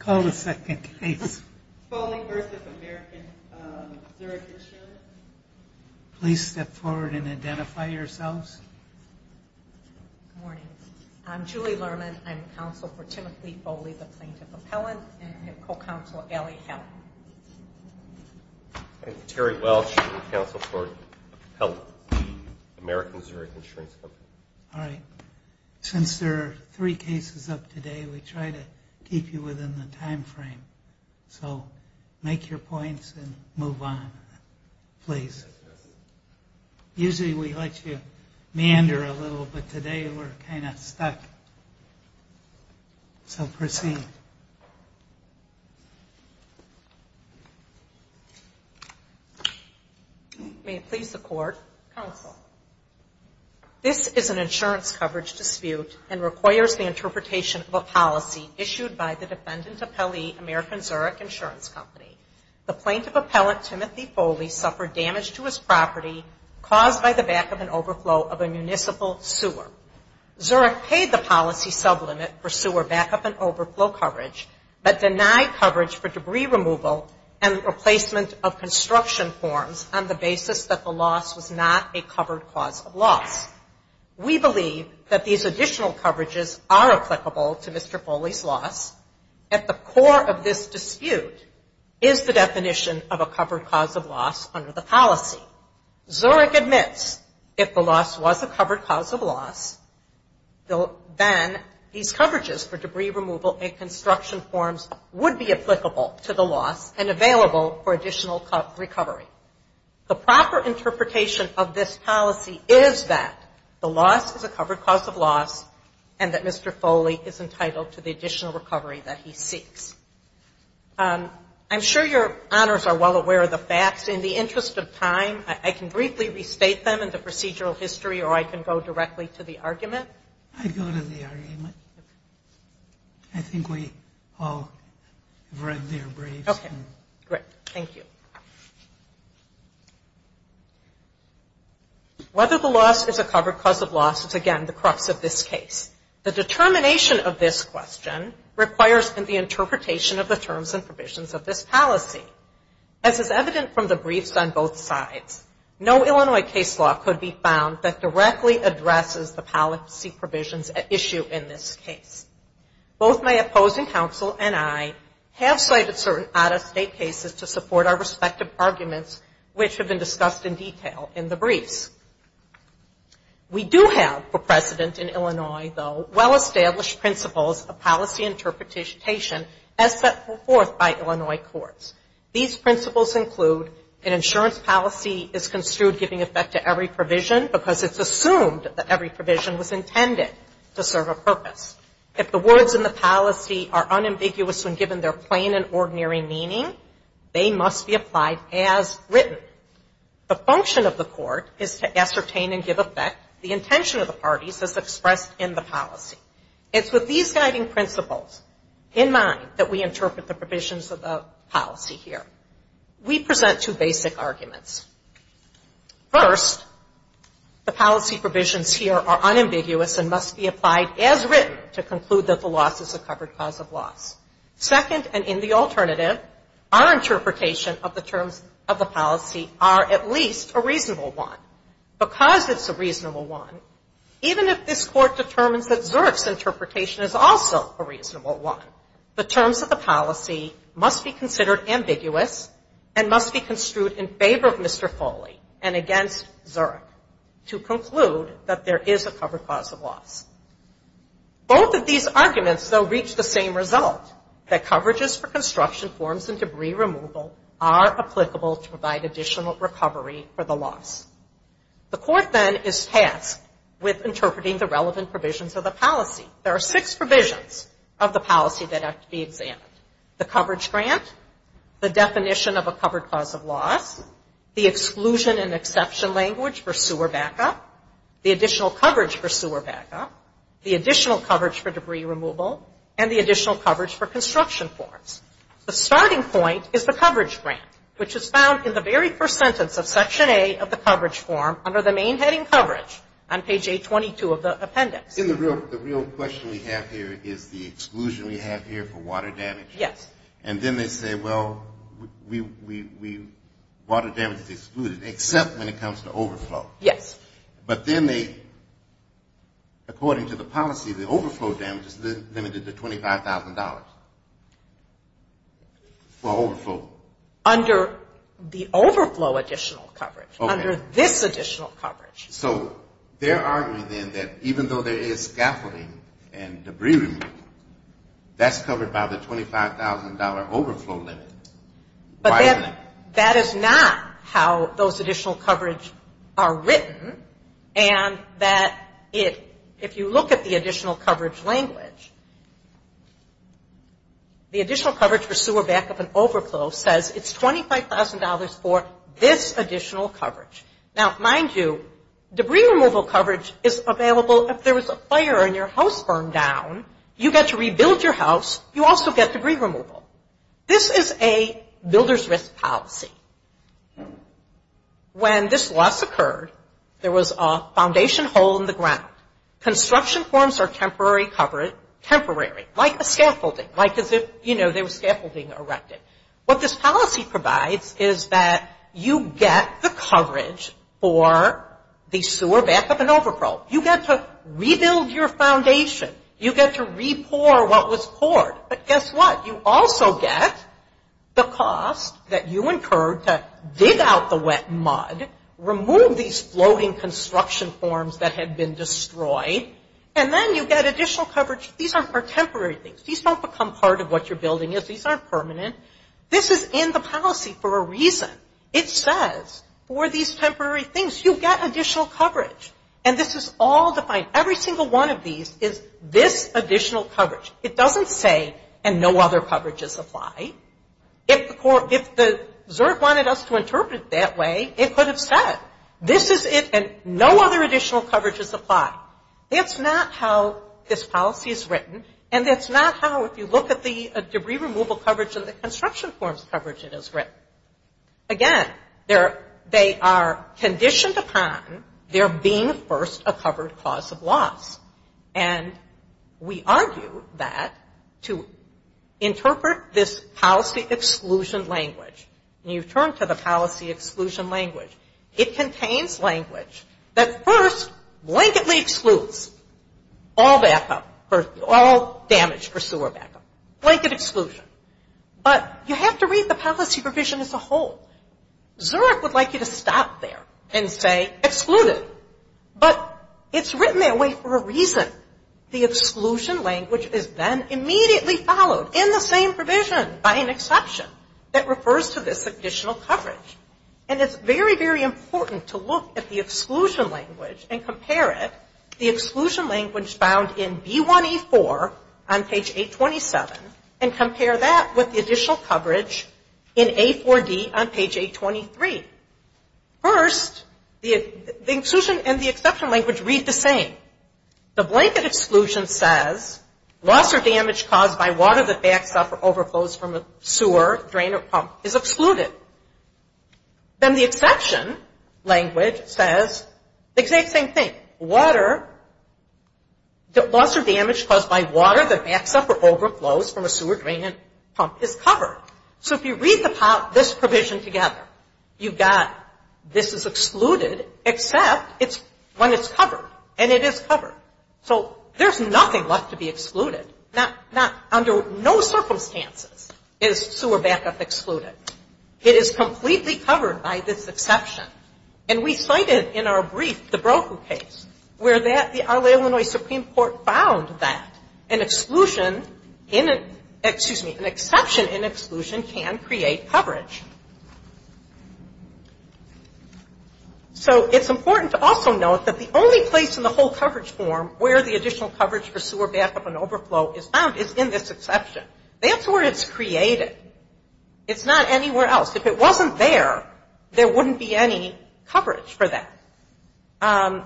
Call the second case. Foley v. American Zurich Insurance. Please step forward and identify yourselves. Good morning. I'm Julie Lerman. I'm counsel for Timothy Foley, the plaintiff appellant, and co-counsel Ellie Hellen. I'm Terry Welch, counsel for Hellen, American Zurich Insurance Company. All right. Since there are three cases up today, we try to keep you within the time frame. So make your points and move on, please. Usually we let you meander a little, but today we're kind of stuck. So proceed. May it please the court. Counsel, this is an insurance coverage dispute and requires the interpretation of a policy issued by the defendant appellee, American Zurich Insurance Company. The plaintiff appellant, Timothy Foley, suffered damage to his property caused by the back-up and overflow of a municipal sewer. Zurich paid the policy sublimit for sewer back-up and overflow coverage, but denied coverage for debris removal and replacement of construction forms on the basis that the loss was a covered cause of loss. We believe that these additional coverages are applicable to Mr. Foley's loss. At the core of this dispute is the definition of a covered cause of loss under the policy. Zurich admits if the loss was a covered cause of loss, then these coverages for debris removal and construction forms would be applicable to the loss and the proper interpretation of this policy is that the loss is a covered cause of loss and that Mr. Foley is entitled to the additional recovery that he seeks. I'm sure your honors are well aware of the facts. In the interest of time, I can briefly restate them in the procedural history or I can go directly to the argument. I'd go to the argument. I think we all have read their briefs. Whether the loss is a covered cause of loss is again the crux of this case. The determination of this question requires the interpretation of the terms and provisions of this policy. As is evident from the briefs on both sides, no Illinois case law could be found that directly addresses the policy provisions at issue in this case. Both my opposing counsel and I have cited certain out-of-state cases to support our respective arguments which have been discussed in detail in the briefs. We do have for precedent in Illinois though well-established principles of policy interpretation as set forth by Illinois courts. These principles include an insurance policy is construed giving effect to every provision because it's assumed that every provision was intended to serve a purpose. If the words in the policy are unambiguous when given their plain and ordinary meaning, they must be applied as written. The function of the court is to ascertain and give effect the intention of the parties as expressed in the policy. It's with these guiding principles in mind that we interpret the provisions of the policy here. We present two basic arguments. First, the policy provisions here are unambiguous and must be applied as a cover cause of loss. Second and in the alternative, our interpretation of the terms of the policy are at least a reasonable one. Because it's a reasonable one, even if this court determines that Zurich's interpretation is also a reasonable one, the terms of the policy must be considered ambiguous and must be construed in favor of Mr. Foley and against Zurich to conclude that there is a cover cause of loss. Both of these arguments, though, reach the same result, that coverages for construction forms and debris removal are applicable to provide additional recovery for the loss. The court, then, is tasked with interpreting the relevant provisions of the policy. There are six provisions of the policy that have to be examined. The coverage grant, the definition of a covered cause of loss, the exclusion and exception language for sewer backup, the additional coverage for debris removal, and the additional coverage for construction forms. The starting point is the coverage grant, which is found in the very first sentence of Section A of the coverage form under the main heading coverage on page 822 of the appendix. The real question we have here is the exclusion we have here for water damage. Yes. And then they say, well, water damage is excluded, except when it comes to overflow. Yes. But then they, according to the policy, the overflow damage is limited to $25,000 for overflow. Under the overflow additional coverage, under this additional coverage. So they're arguing, then, that even though there is scaffolding and debris removal, that's covered by the $25,000 overflow limit. Why isn't that? That is not how those additional coverage are written, and that if you look at the additional coverage language, the additional coverage for sewer backup and overflow says it's $25,000 for this additional coverage. Now, mind you, debris removal coverage is available if there was a fire and your house burned down, you get to rebuild your house, you also get debris removal. This is a builder's risk policy. When this loss occurred, there was a foundation hole in the ground. Construction forms are temporary, like a scaffolding, like as if, you know, there was scaffolding erected. What this policy provides is that you get the coverage for the sewer backup and overflow. You get to rebuild your foundation. You get to re-pour what was poured. But guess what? You also get the cost that you incurred to dig out the wet mud, remove these floating construction forms that had been destroyed, and then you get additional coverage. These aren't for temporary things. These don't become part of what your building is. These aren't permanent. This is in the policy for a reason. It says for these temporary things, you get additional coverage. And this is all defined. Every single one of these is this additional coverage. It doesn't say, and no other coverages apply. If the ZERG wanted us to interpret it that way, it could have said this is it and no other additional coverages apply. That's not how this policy is written, and that's not how, if you look at the debris removal coverage and the construction forms coverage, it is written. Again, they are conditioned upon there being first a covered cause of loss. And we argue that to interpret this policy exclusion language, and you turn to the policy exclusion language, it contains language that first blanketly excludes all backup, all damage for sewer backup, blanket exclusion. But you have to read the policy provision as a whole. ZERG would like you to stop there and say excluded, but it's written that way for a reason. The exclusion language is then immediately followed in the same way by the additional coverage. And it's very, very important to look at the exclusion language and compare it, the exclusion language found in B1E4 on page 827, and compare that with the additional coverage in A4D on page 823. First, the exclusion and the exception language read the same. The blanket exclusion says loss or damage caused by water that backs up or overflows from a sewer drain or pump is excluded. Then the exception language says the exact same thing. Water, loss or damage caused by water that backs up or overflows from a sewer drain and pump is covered. So if you read this provision together, you've got this is excluded, except when it's covered. And it is covered. So there's nothing left to be excluded. Under no exception, it's completely covered by this exception. And we cited in our brief the Brochu case, where that the Illinois Supreme Court found that an exclusion, excuse me, an exception in exclusion can create coverage. So it's important to also note that the only place in the whole coverage form where the additional coverage for sewer backup and overflow is found is in this exception. That's where it's created. It's not anywhere else. If it wasn't there, there wouldn't be any coverage for that. And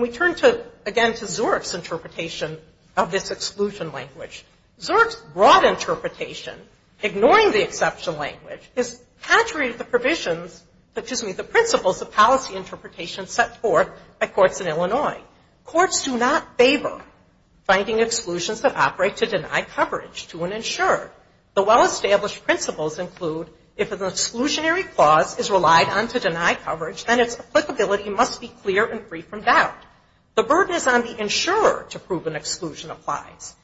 we turn to, again, to Zurich's interpretation of this exclusion language. Zurich's broad interpretation, ignoring the exception language, is contrary to the provisions, excuse me, the principles of policy interpretation set forth by courts in Illinois. Courts do not favor finding exclusions that operate to deny coverage to an insurer. The well-established principles include if an exclusionary clause is relied on to deny coverage, then its applicability must be clear and free from doubt. The burden is on the insurer to prove an exclusion applies.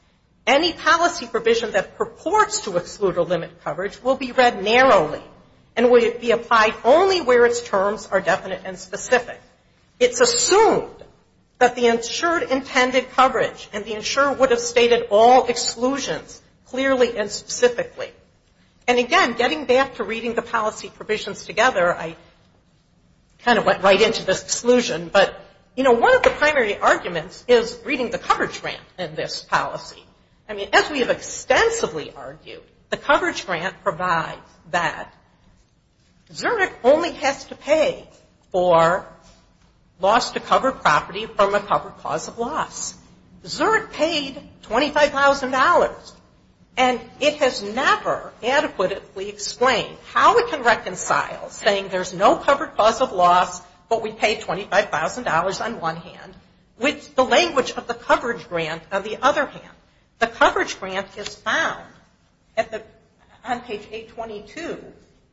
Any policy provision that purports to exclude or limit coverage will be read narrowly and will be applied only where its terms are definite and specific. It's assumed that the insured intended coverage and the insurer would have stated all exclusions clearly and specifically. And again, getting back to reading the policy provisions together, I kind of went right into this exclusion, but, you know, one of the primary arguments is reading the coverage grant in this policy. I mean, as we have extensively argued, the coverage grant provides that Zurich only has to pay for loss to cover property from a covered cause of loss. Zurich paid $25,000, and it has never adequately explained how it can reconcile saying there's no covered cause of loss, but we pay $25,000 on one hand, with the language of the coverage grant on the other hand. The coverage grant is found on page 822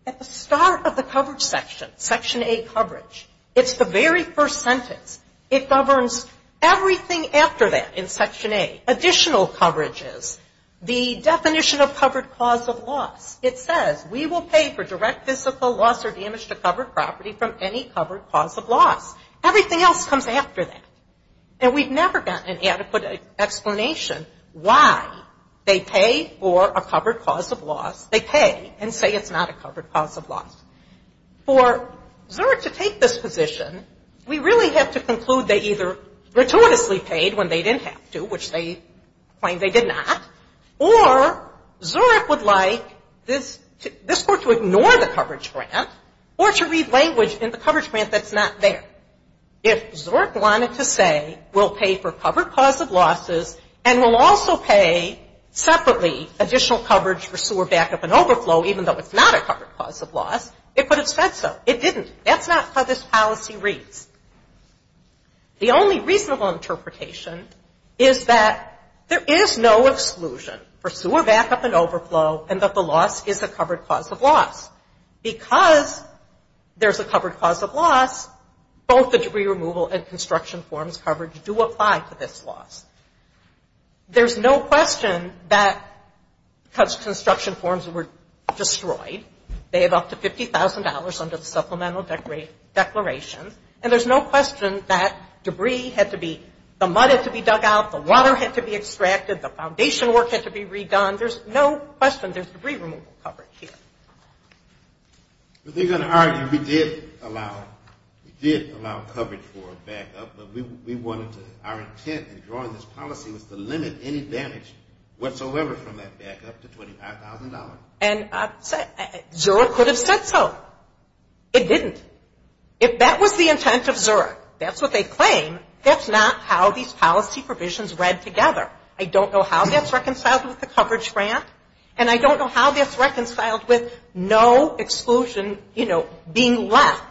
at the start of the coverage section, section A coverage. It's the very first sentence. It governs everything after that in section A. Additional coverage is the definition of covered cause of loss. It says we will pay for direct physical loss or damage to covered property from any covered cause of loss. Everything else comes after that. And we've never gotten an adequate explanation why they pay for a covered cause of loss. They pay and say it's not a covered cause of loss. For Zurich to take this position, we really have to conclude they either gratuitously paid when they didn't have to, which they claim they did not, or Zurich would like this court to ignore the coverage grant or to read language in the coverage grant that's not there. If Zurich wanted to say we'll pay for covered cause of losses and we'll also pay separately additional coverage for sewer backup and overflow, even though it's not a covered cause of loss, it could have said so. It didn't. That's not how this policy reads. The only reasonable interpretation is that there is no exclusion for sewer backup and overflow and that the loss is a covered cause of loss. Because there's a covered cause of loss, both the debris removal and construction forms coverage do apply to this loss. There's no question that construction forms were destroyed. They have up to $50,000 under the supplemental declaration. And there's no question that debris had to be, the mud had to be dug out, the water had to be extracted, the foundation work had to be redone. There's no question there's debris removal coverage here. We did allow coverage for backup, but we wanted to, our intent in drawing this policy was to limit any damage whatsoever from that backup to $25,000. It didn't. If that was the intent of Zurich, that's what they claim, that's not how these policy provisions read together. I don't know how that's reconciled with the coverage grant and I don't know how that's reconciled with no exclusion, you know, being left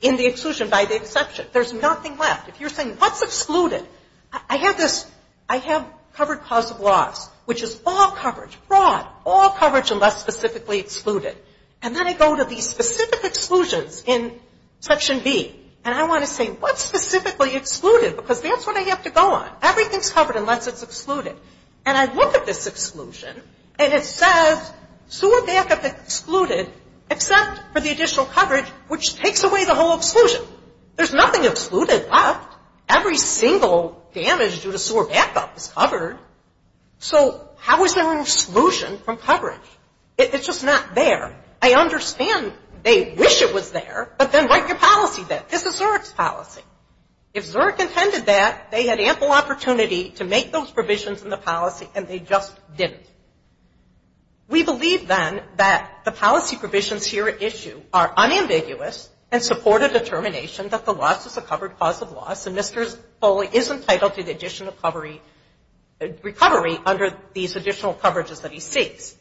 in the exclusion by the exception. There's nothing left. If you're saying what's excluded? I have this, I have covered cause of loss, which is all coverage, broad, all these specific exclusions in section B. And I want to say what's specifically excluded? Because that's what I have to go on. Everything's covered unless it's excluded. And I look at this exclusion and it says sewer backup excluded except for the additional coverage, which takes away the whole exclusion. There's nothing excluded left. Every single damage due to sewer backup is covered. So how is there an exclusion from coverage? It's just not there. I understand they wish it was there, but then write your policy there. This is Zurich's policy. If Zurich intended that, they had ample opportunity to make those provisions in the policy and they just didn't. We believe then that the policy provisions here at issue are unambiguous and support a determination that the loss is a covered cause of loss and Mr. Foley is entitled to the additional recovery under these additional coverages that he has.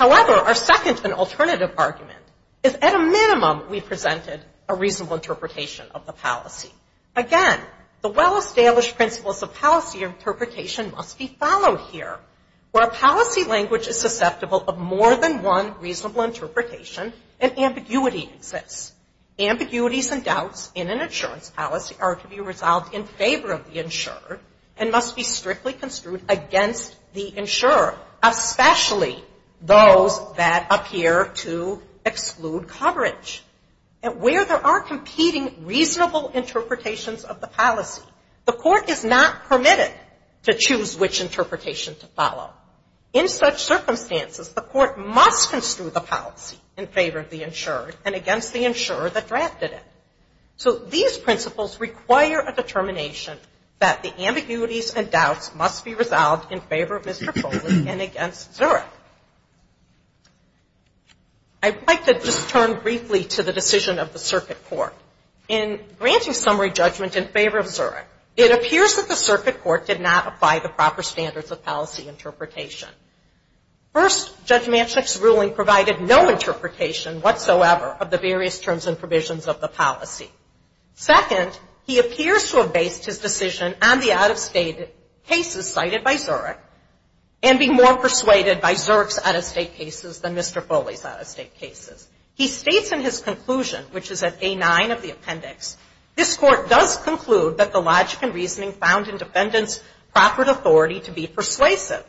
A second and alternative argument is at a minimum we presented a reasonable interpretation of the policy. Again, the well-established principles of policy interpretation must be followed here. Where a policy language is susceptible of more than one reasonable interpretation, an ambiguity exists. Ambiguities and doubts in an insurance policy are to be resolved in favor of the insurer and must be strictly construed against the insurer, especially those that appear to exclude coverage. And where there are competing reasonable interpretations of the policy, the court is not permitted to choose which interpretation to follow. In such circumstances, the court must construe the policy in favor of the insurer and against the insurer that drafted it. So these principles require a determination that the ambiguities and doubts must be resolved in favor of Mr. Foley and against Zurich. I'd like to just turn briefly to the decision of the circuit court. In granting summary judgment in favor of Zurich, it appears that the circuit court did not apply the proper standards of policy interpretation. First, Judge Manchinick's ruling provided no interpretation whatsoever of the various terms and provisions of the policy. Second, he appears to have based his decision on the out-of-state cases cited by Zurich and be more persuaded by Zurich's out-of-state cases than Mr. Foley's out-of-state cases. He states in his conclusion, which is at A9 of the appendix, this court does conclude that the logic and reasoning found in defendant's proper authority to be persuasive.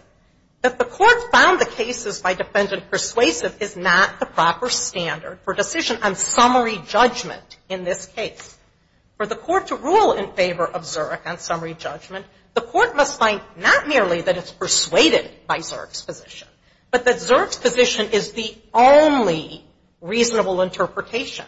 That the court found the cases by defendant persuasive is not the proper standard for decision on summary judgment in this case. For the court to rule in favor of Zurich on summary judgment, the court must find not merely that it's persuaded by Zurich's position, but that Zurich's position is the only reasonable interpretation.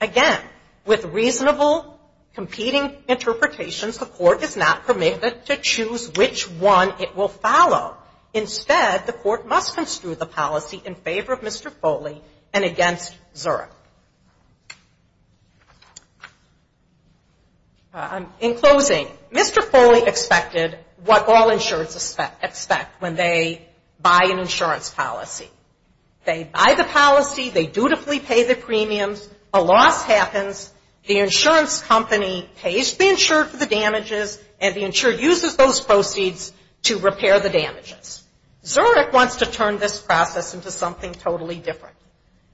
Again, with reasonable competing interpretations, the court is not permitted to choose which one it will follow. Instead, the court must construe the policy in favor of Mr. Foley and against Zurich. In closing, Mr. Foley expected what all insurers expect when they buy an insurance policy, which is that the court interprets its own policy. They buy the policy, they dutifully pay the premiums, a loss happens, the insurance company pays the insured for the damages, and the insured uses those proceeds to repair the damages. Zurich wants to turn this process into something totally different.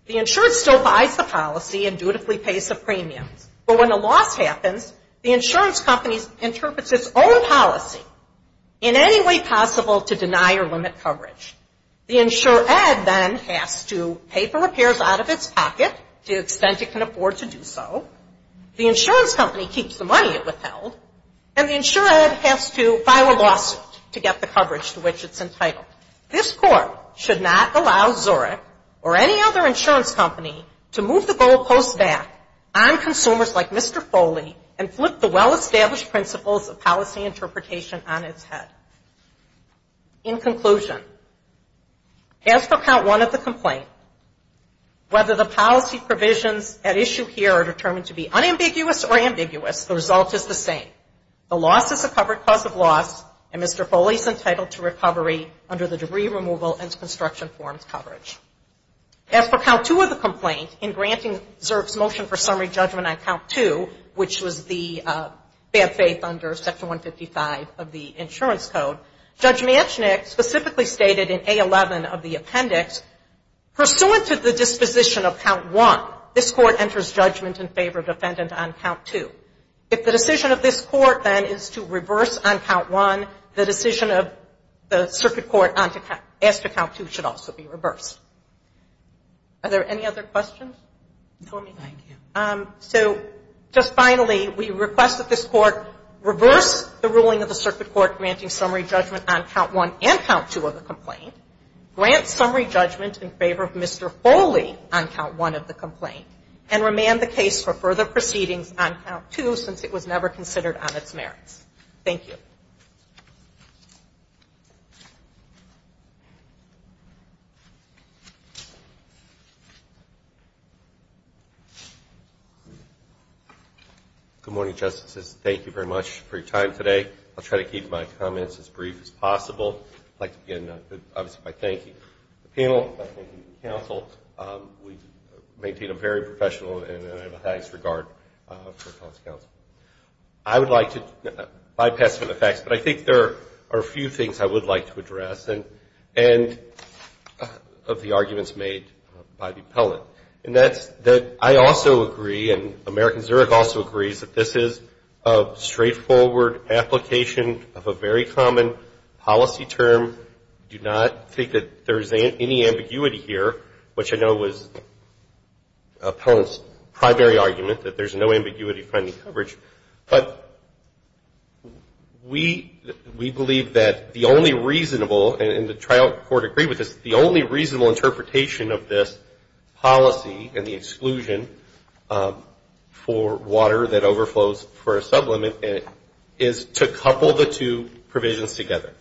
The insured still buys the policy and dutifully pays the premiums. But when a loss happens, the insurance company interprets its own policy in any way possible to deny or limit coverage. The insured then has to pay for repairs out of its pocket to the extent it can afford to do so. The insurance company keeps the money it withheld, and the insured has to file a lawsuit to get the coverage to which it's entitled. This court should not allow Zurich or any other insurance company to move the goalposts back on consumers like Mr. Foley and flip the well- established principles of policy interpretation on its head. In conclusion, as for count one of the complaint, whether the policy provisions at issue here are determined to be unambiguous or ambiguous, the result is the same. The loss is a covered cause of loss, and Mr. Foley is entitled to recovery under the debris removal and construction forms coverage. As for count two of the complaint, in granting Zurich's motion for summary judgment on count two, which was the bad faith under section 155 of the insurance code, Judge Manchinick specifically stated in A11 of the appendix, pursuant to the disposition of count one, this court enters judgment in favor of defendant on count two. If the decision of this court, then, is to reverse on count one, the decision of the circuit court as to count two should also be reversed. Are there any other questions? So just finally, we request that this court reverse the ruling of the circuit court granting summary judgment on count one and count two of the complaint, grant summary judgment in favor of Mr. Foley on count one of the complaint, and remand the case for further proceedings on count two since it was never considered on its merits. Thank you. Good morning, Justices. Thank you very much for your time today. I'll try to keep my comments as brief as possible. I'd like to begin, obviously, by thanking the panel, thanking the counsel. We maintain a very professional and unambitious regard for the counsel. I would like to bypass some of the facts, but I think there are a few things I would like to address, and of the arguments made by the appellant. And that's that I also agree, and American Zurich also agrees, that this is a straightforward application of a very common policy term. I do not think that there's any ambiguity here, which I know was appellant's primary argument, that there's no ambiguity in finding coverage. But we believe that the only reasonable, and the trial court agreed with this, the only reasonable interpretation of this policy and the exclusion for water that overflows for a sublimit is to couple the two provisions together.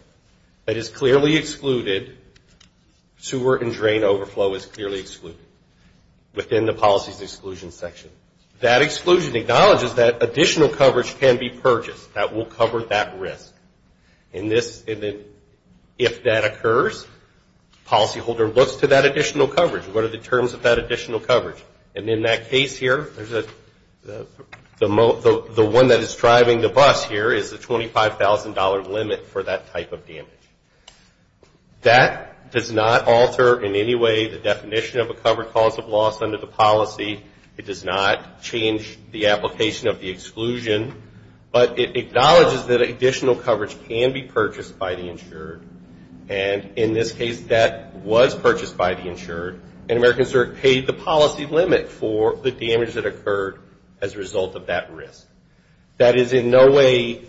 It is clearly excluded. Sewer and drain overflow is clearly excluded within the policy's exclusion section. That exclusion acknowledges that additional coverage can be purchased that will cover that risk. And if that occurs, policyholder looks to that additional coverage. What are the terms of that additional coverage? And in that case here, the one that is driving the bus here is the $25,000 limit for that type of damage. That does not alter in any way the definition of a covered cause of loss under the policy. It does not change the application of the exclusion. But it acknowledges that additional coverage can be purchased by the insured. And in this case, that was purchased by the insured, and American Zurich paid the policy limit for the damage that occurred as a result of that risk. That is in no way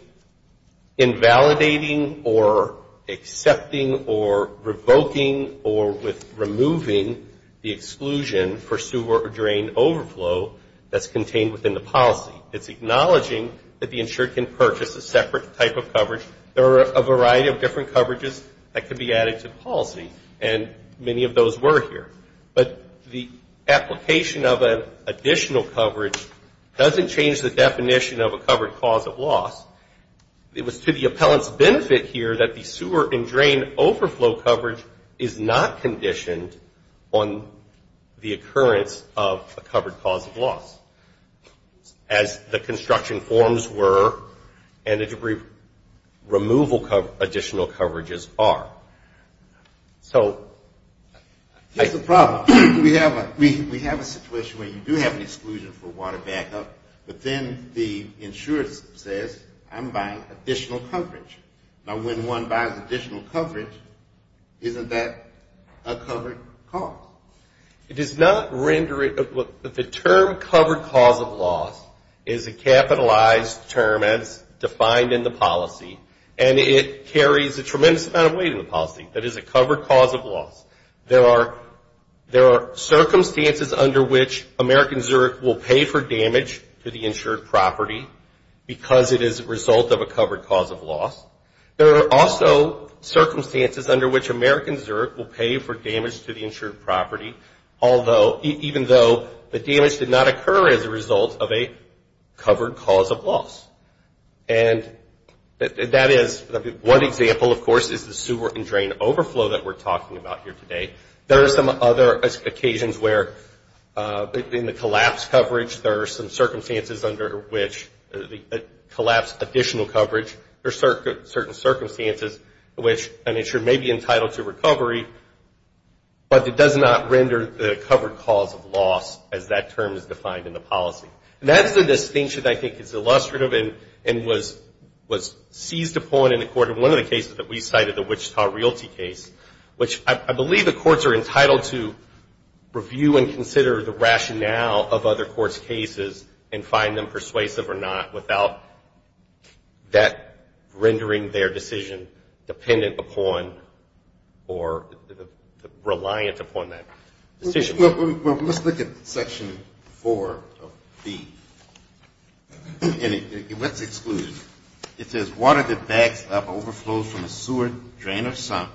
invalidating or accepting or revoking or removing the exclusion for sewer or drain overflow that's contained within the policy. It's acknowledging that the insured can purchase a separate type of coverage. There are a variety of different coverages that can be added to policy, and many of those were here. But the application of an additional coverage doesn't change the definition of a covered cause of loss. The appellants benefit here that the sewer and drain overflow coverage is not conditioned on the occurrence of a covered cause of loss, as the construction forms were and the debris removal additional coverages are. So... Here's the problem. We have a situation where you do have an exclusion for water backup, but then the insured says, I'm buying additional coverage. Now when one buys additional coverage, isn't that a covered cause? It does not render it. The term covered cause of loss is a capitalized term as defined in the policy, and it carries a tremendous amount of weight in the policy. That is a covered cause of loss. There are circumstances under which American Zurich will pay for damage to the insured property, even though the damage did not occur as a result of a covered cause of loss. And that is one example, of course, is the sewer and drain overflow that we're talking about here today. There are some other occasions where in the case of a covered cause of loss, the insured may be entitled to recovery, but it does not render the covered cause of loss as that term is defined in the policy. And that's the distinction I think is illustrative and was seized upon in the court in one of the cases that we cited, the Wichita Realty case, which I believe the courts are entitled to review and consider the rationale of other cases, but not that rendering their decision dependent upon or reliant upon that decision. Let's look at Section 4 of B. And what's excluded? It says water that backs up overflows from a sewer drain or sump,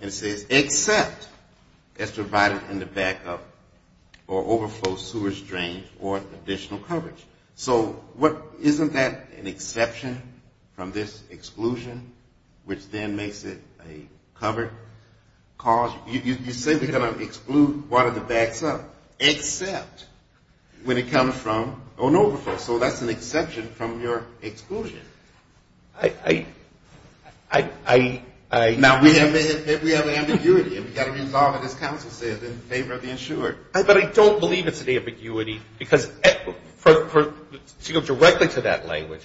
and it says except as provided in the back up or overflow sewers, drains, or additional coverage. So isn't that a covered cause of loss? Isn't that an exception from this exclusion, which then makes it a covered cause? You say we're going to exclude water that backs up, except when it comes from an overflow. So that's an exception from your exclusion. Now, we have ambiguity, and we've got to resolve it, as counsel said, in favor of the insured. But I don't believe it's an ambiguity, because to go directly to that language,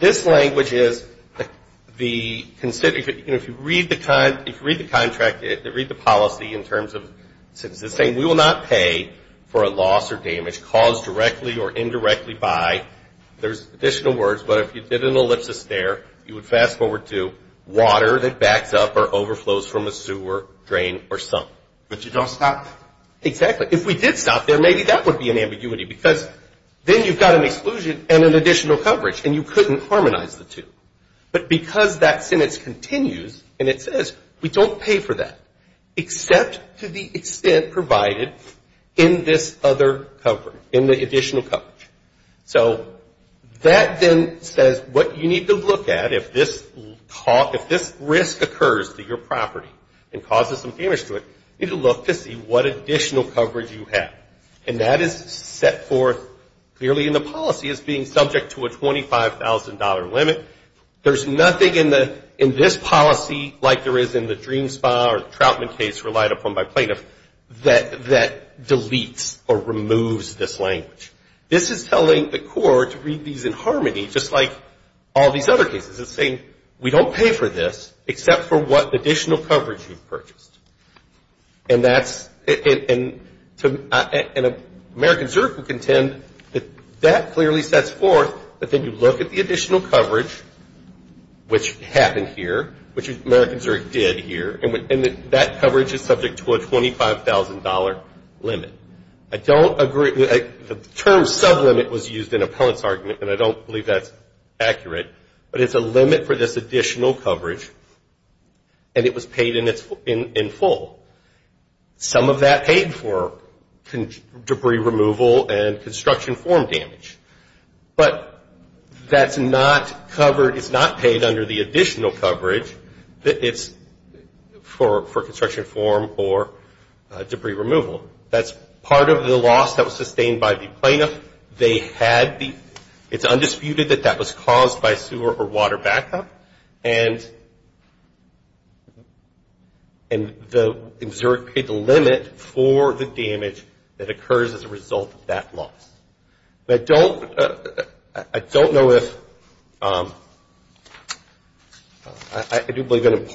this language is the, you know, if you read the contract, read the policy in terms of, it's saying we will not pay for a loss or damage caused directly or indirectly by, there's additional words, but if you did an ellipsis there, you would fast forward to water that backs up or overflows from a sewer drain or sump. But you don't stop? Exactly. If we did stop there, maybe that would be an ambiguity, because then you've got an exclusion and an additional coverage, and you couldn't harmonize the two. But because that sentence continues, and it says we don't pay for that, except to the extent provided in this other cover, in the additional coverage. So that then says what you need to look at if this talk, if this risk occurs to your property and causes some damage to it, you need to look to see what additional coverage you have. And that is set forth clearly in the policy as being subject to a $25,000 limit. There's nothing in this policy like there is in the Dream Spa or Troutman case relied upon by plaintiffs that deletes or removes this language. This is telling the court to read these in harmony, just like all these other cases. It's saying we don't pay for this, except for what additional coverage you've purchased. And that's, and American Zurich will contend that that clearly sets forth that then you look at the additional coverage, which happened here, which American Zurich did here, and that coverage is subject to a $25,000 limit. I don't agree, the term sublimit was used in Appellant's argument, and I don't believe that's accurate, but it's a limit for this additional coverage, and it was paid in full. Some of that paid for debris removal and construction form damage. But that's not covered, it's not paid under the additional coverage that it's for construction form or debris removal. That's not covered either. Part of the loss that was sustained by the plaintiff, they had the, it's undisputed that that was caused by sewer or water backup, and Zurich paid the limit for the damage that occurs as a result of that loss. But I don't know if, I do believe an additional coverage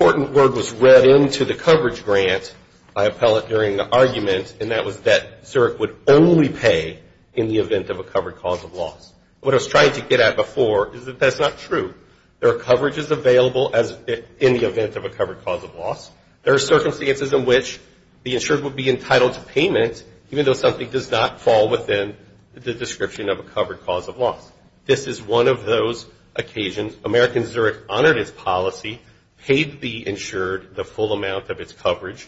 that Zurich would only pay in the event of a covered cause of loss. What I was trying to get at before is that that's not true. There are coverages available in the event of a covered cause of loss. There are circumstances in which the insured would be entitled to payment, even though something does not fall within the description of a covered cause of loss. This is one of those occasions. American Zurich honored its policy, paid the insured the full amount of its coverage.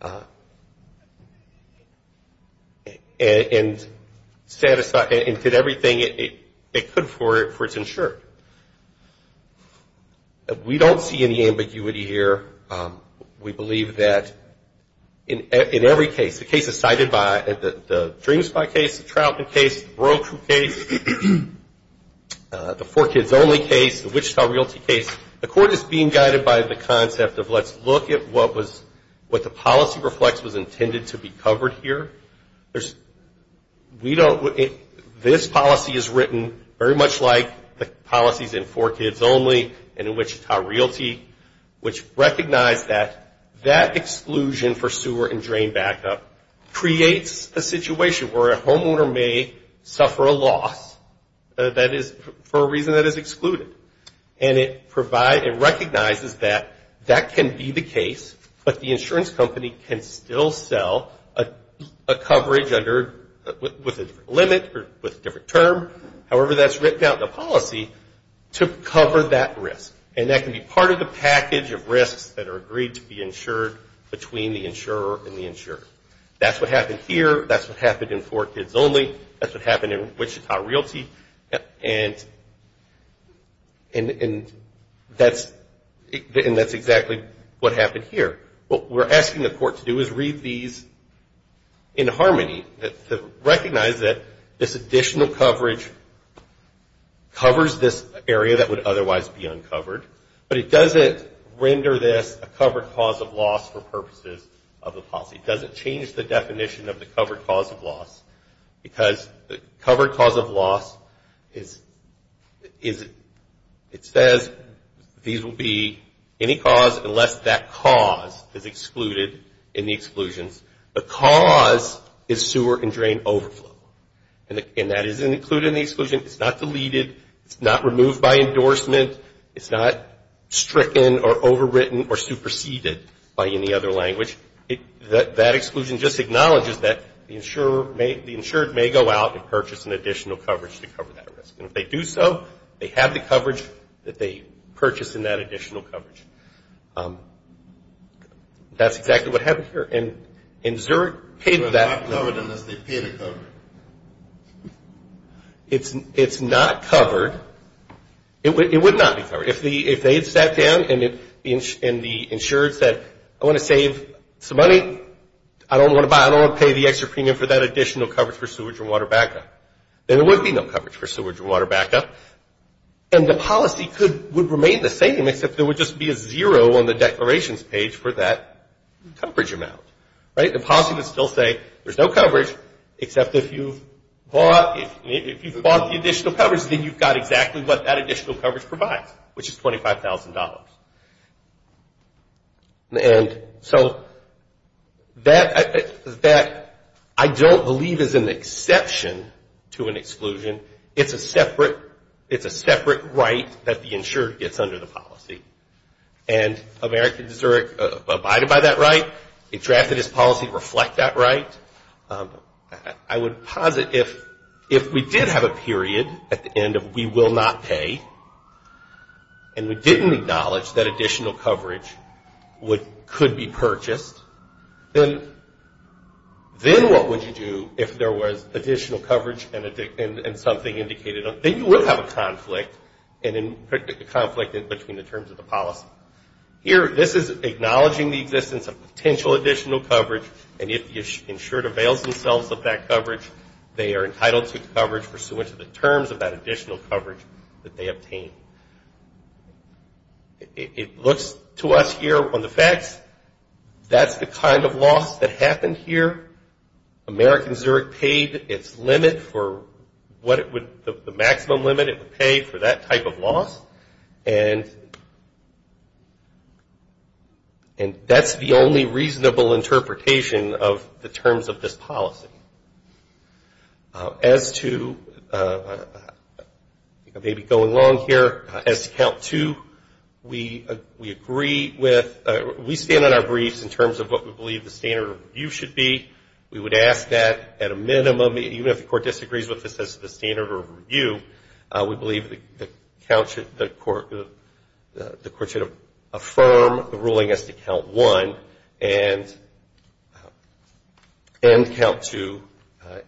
And did everything it could for its insured. We don't see any ambiguity here. We believe that in every case, the case is cited by, the DreamSpy case, the Troutman case, the Broku case, the Four Kids Only case, the Wichita Realty case, the court is being guided by the concept of let's look at what the policy reflects was intended to be covered here. Let's look at the case. This policy is written very much like the policies in Four Kids Only and in Wichita Realty, which recognize that that exclusion for sewer and drain backup creates a situation where a homeowner may suffer a loss that is, for a reason that is excluded. And it recognizes that that can be the case, but the insurance company can still sell a coverage that is covered under, with a different limit or with a different term. However, that's written out in the policy to cover that risk. And that can be part of the package of risks that are agreed to be insured between the insurer and the insured. That's what happened here. That's what happened in Four Kids Only. That's what happened in Wichita Realty. And that's exactly what we're getting. But that's the harmony that recognizes that this additional coverage covers this area that would otherwise be uncovered, but it doesn't render this a covered cause of loss for purposes of the policy. It doesn't change the definition of the covered cause of loss, because the covered cause of loss is, it says these will be any cause unless that cause is sewer and drain overflow. And that is included in the exclusion. It's not deleted. It's not removed by endorsement. It's not stricken or overwritten or superseded by any other language. That exclusion just acknowledges that the insured may go out and purchase an additional coverage to cover that risk. And if they do so, they have the coverage that they purchased in that additional coverage. That's exactly what happened here. And Zurich paid for that. It's not covered. It would not be covered. If they had sat down and the insured said, I want to save some money, I don't want to buy, I don't want to pay the extra premium for that additional coverage for sewage and water backup, then there would be no coverage for sewage and water backup. And the policy would remain the same, except there would just be a zero on the declarations page for that coverage amount. The policy would still say there's no coverage, except if you bought the additional coverage, then you've got exactly what that additional coverage provides, which is $25,000. And so that, I don't believe is an exception to an exclusion. It's a separate right that the insured gets under the policy. And America, Zurich, and the insured, they're abided by that right. They drafted this policy to reflect that right. I would posit, if we did have a period at the end of we will not pay, and we didn't acknowledge that additional coverage could be purchased, then what would you do if there was additional coverage and something indicated? Then you will have a conflict between the terms of the policy, acknowledging the existence of potential additional coverage, and if the insured avails themselves of that coverage, they are entitled to coverage pursuant to the terms of that additional coverage that they obtained. It looks to us here on the facts, that's the kind of loss that happened here. American Zurich paid its limit for what it would, the maximum limit it would pay for that type of loss. And that's the only reasonable interpretation of the terms of this policy. As to, maybe going along here, as to count two, we agree with, we stand on our briefs in terms of what we believe the standard of review should be. We would ask that at a minimum, the court should affirm the ruling as to count one, and count two,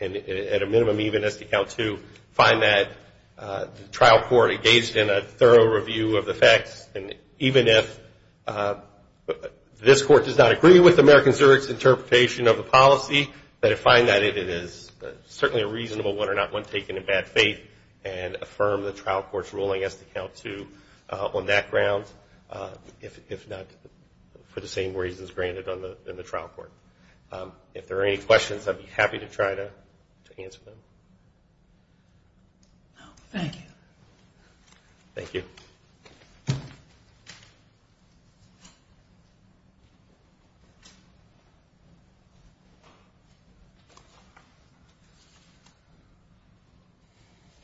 and at a minimum even as to count two, find that the trial court engaged in a thorough review of the facts, and even if this court does not agree with American Zurich's interpretation of the policy, that it find that it is certainly a reasonable one or not one taken in bad faith, and affirm the trial court's ruling. And that's why we're allowing us to count two on that ground, if not for the same reasons granted in the trial court. If there are any questions, I'd be happy to try to answer them. Thank you. Thank you.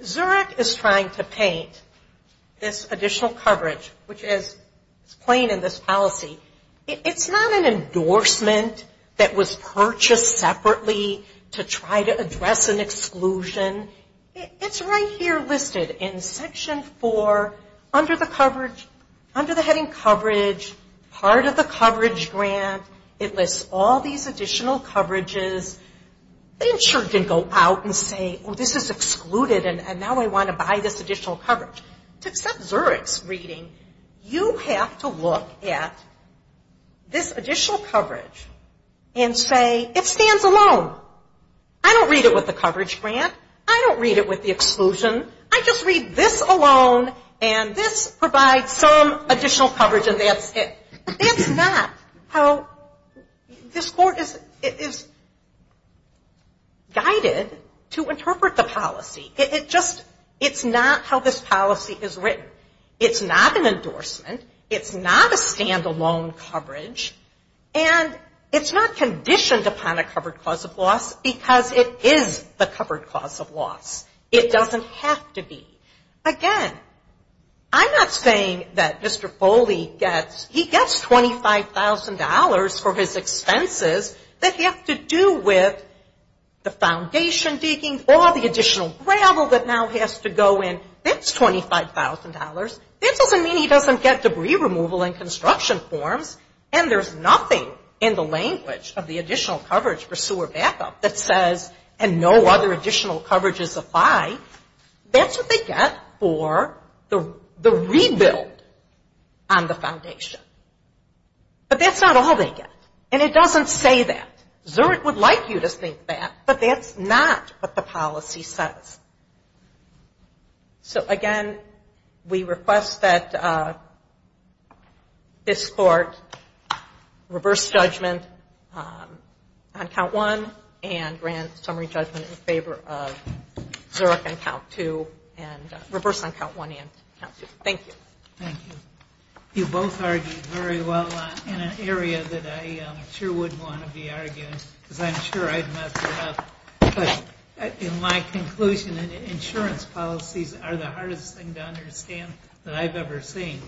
Zurich is trying to paint this additional coverage, which is plain in this policy, it's not an endorsement that was purchased separately to try to address an exclusion. It's right here listed in Section 8 of the Federal Code. It's not an endorsement for under the heading coverage, part of the coverage grant. It lists all these additional coverages. The insured can go out and say, oh, this is excluded, and now I want to buy this additional coverage. To accept Zurich's reading, you have to look at this additional coverage and say, it stands alone. I don't read it with the coverage grant. I don't read it with the exclusion. I just read this alone, and this provides some additional coverage, and that's it. That's not how this court is guided to interpret the policy. It just, it's not how this policy is written. It's not an endorsement. It's not a stand-alone coverage. And it's not conditioned upon a covered cause of loss, because it is the covered cause of loss. It doesn't have to be. Again, I'm not saying that Mr. Foley gets, he gets $25,000 for his expenses that have to do with the foundation digging or the additional gravel that now has to go in. That's $25,000. That doesn't mean he doesn't get debris removal and construction forms, and there's nothing in the language of the additional coverage for sewer backup that says, and no other additional coverage is applied. That's what they get for the rebuild on the foundation. But that's not all they get. And it doesn't say that. Zurich would like you to think that, but that's not what the policy says. So, again, we request that this court reverse judgment on count one and grant summary judgment in favor of the foundation. Zurich on count two, and reverse on count one and count two. Thank you. Thank you. You both argued very well in an area that I sure wouldn't want to be arguing, because I'm sure I'd mess it up. But in my conclusion, insurance policies are the hardest thing to understand that I've ever seen.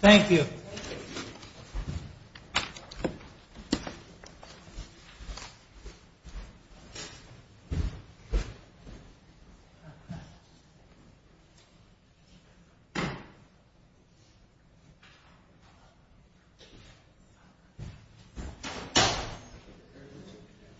Thank you.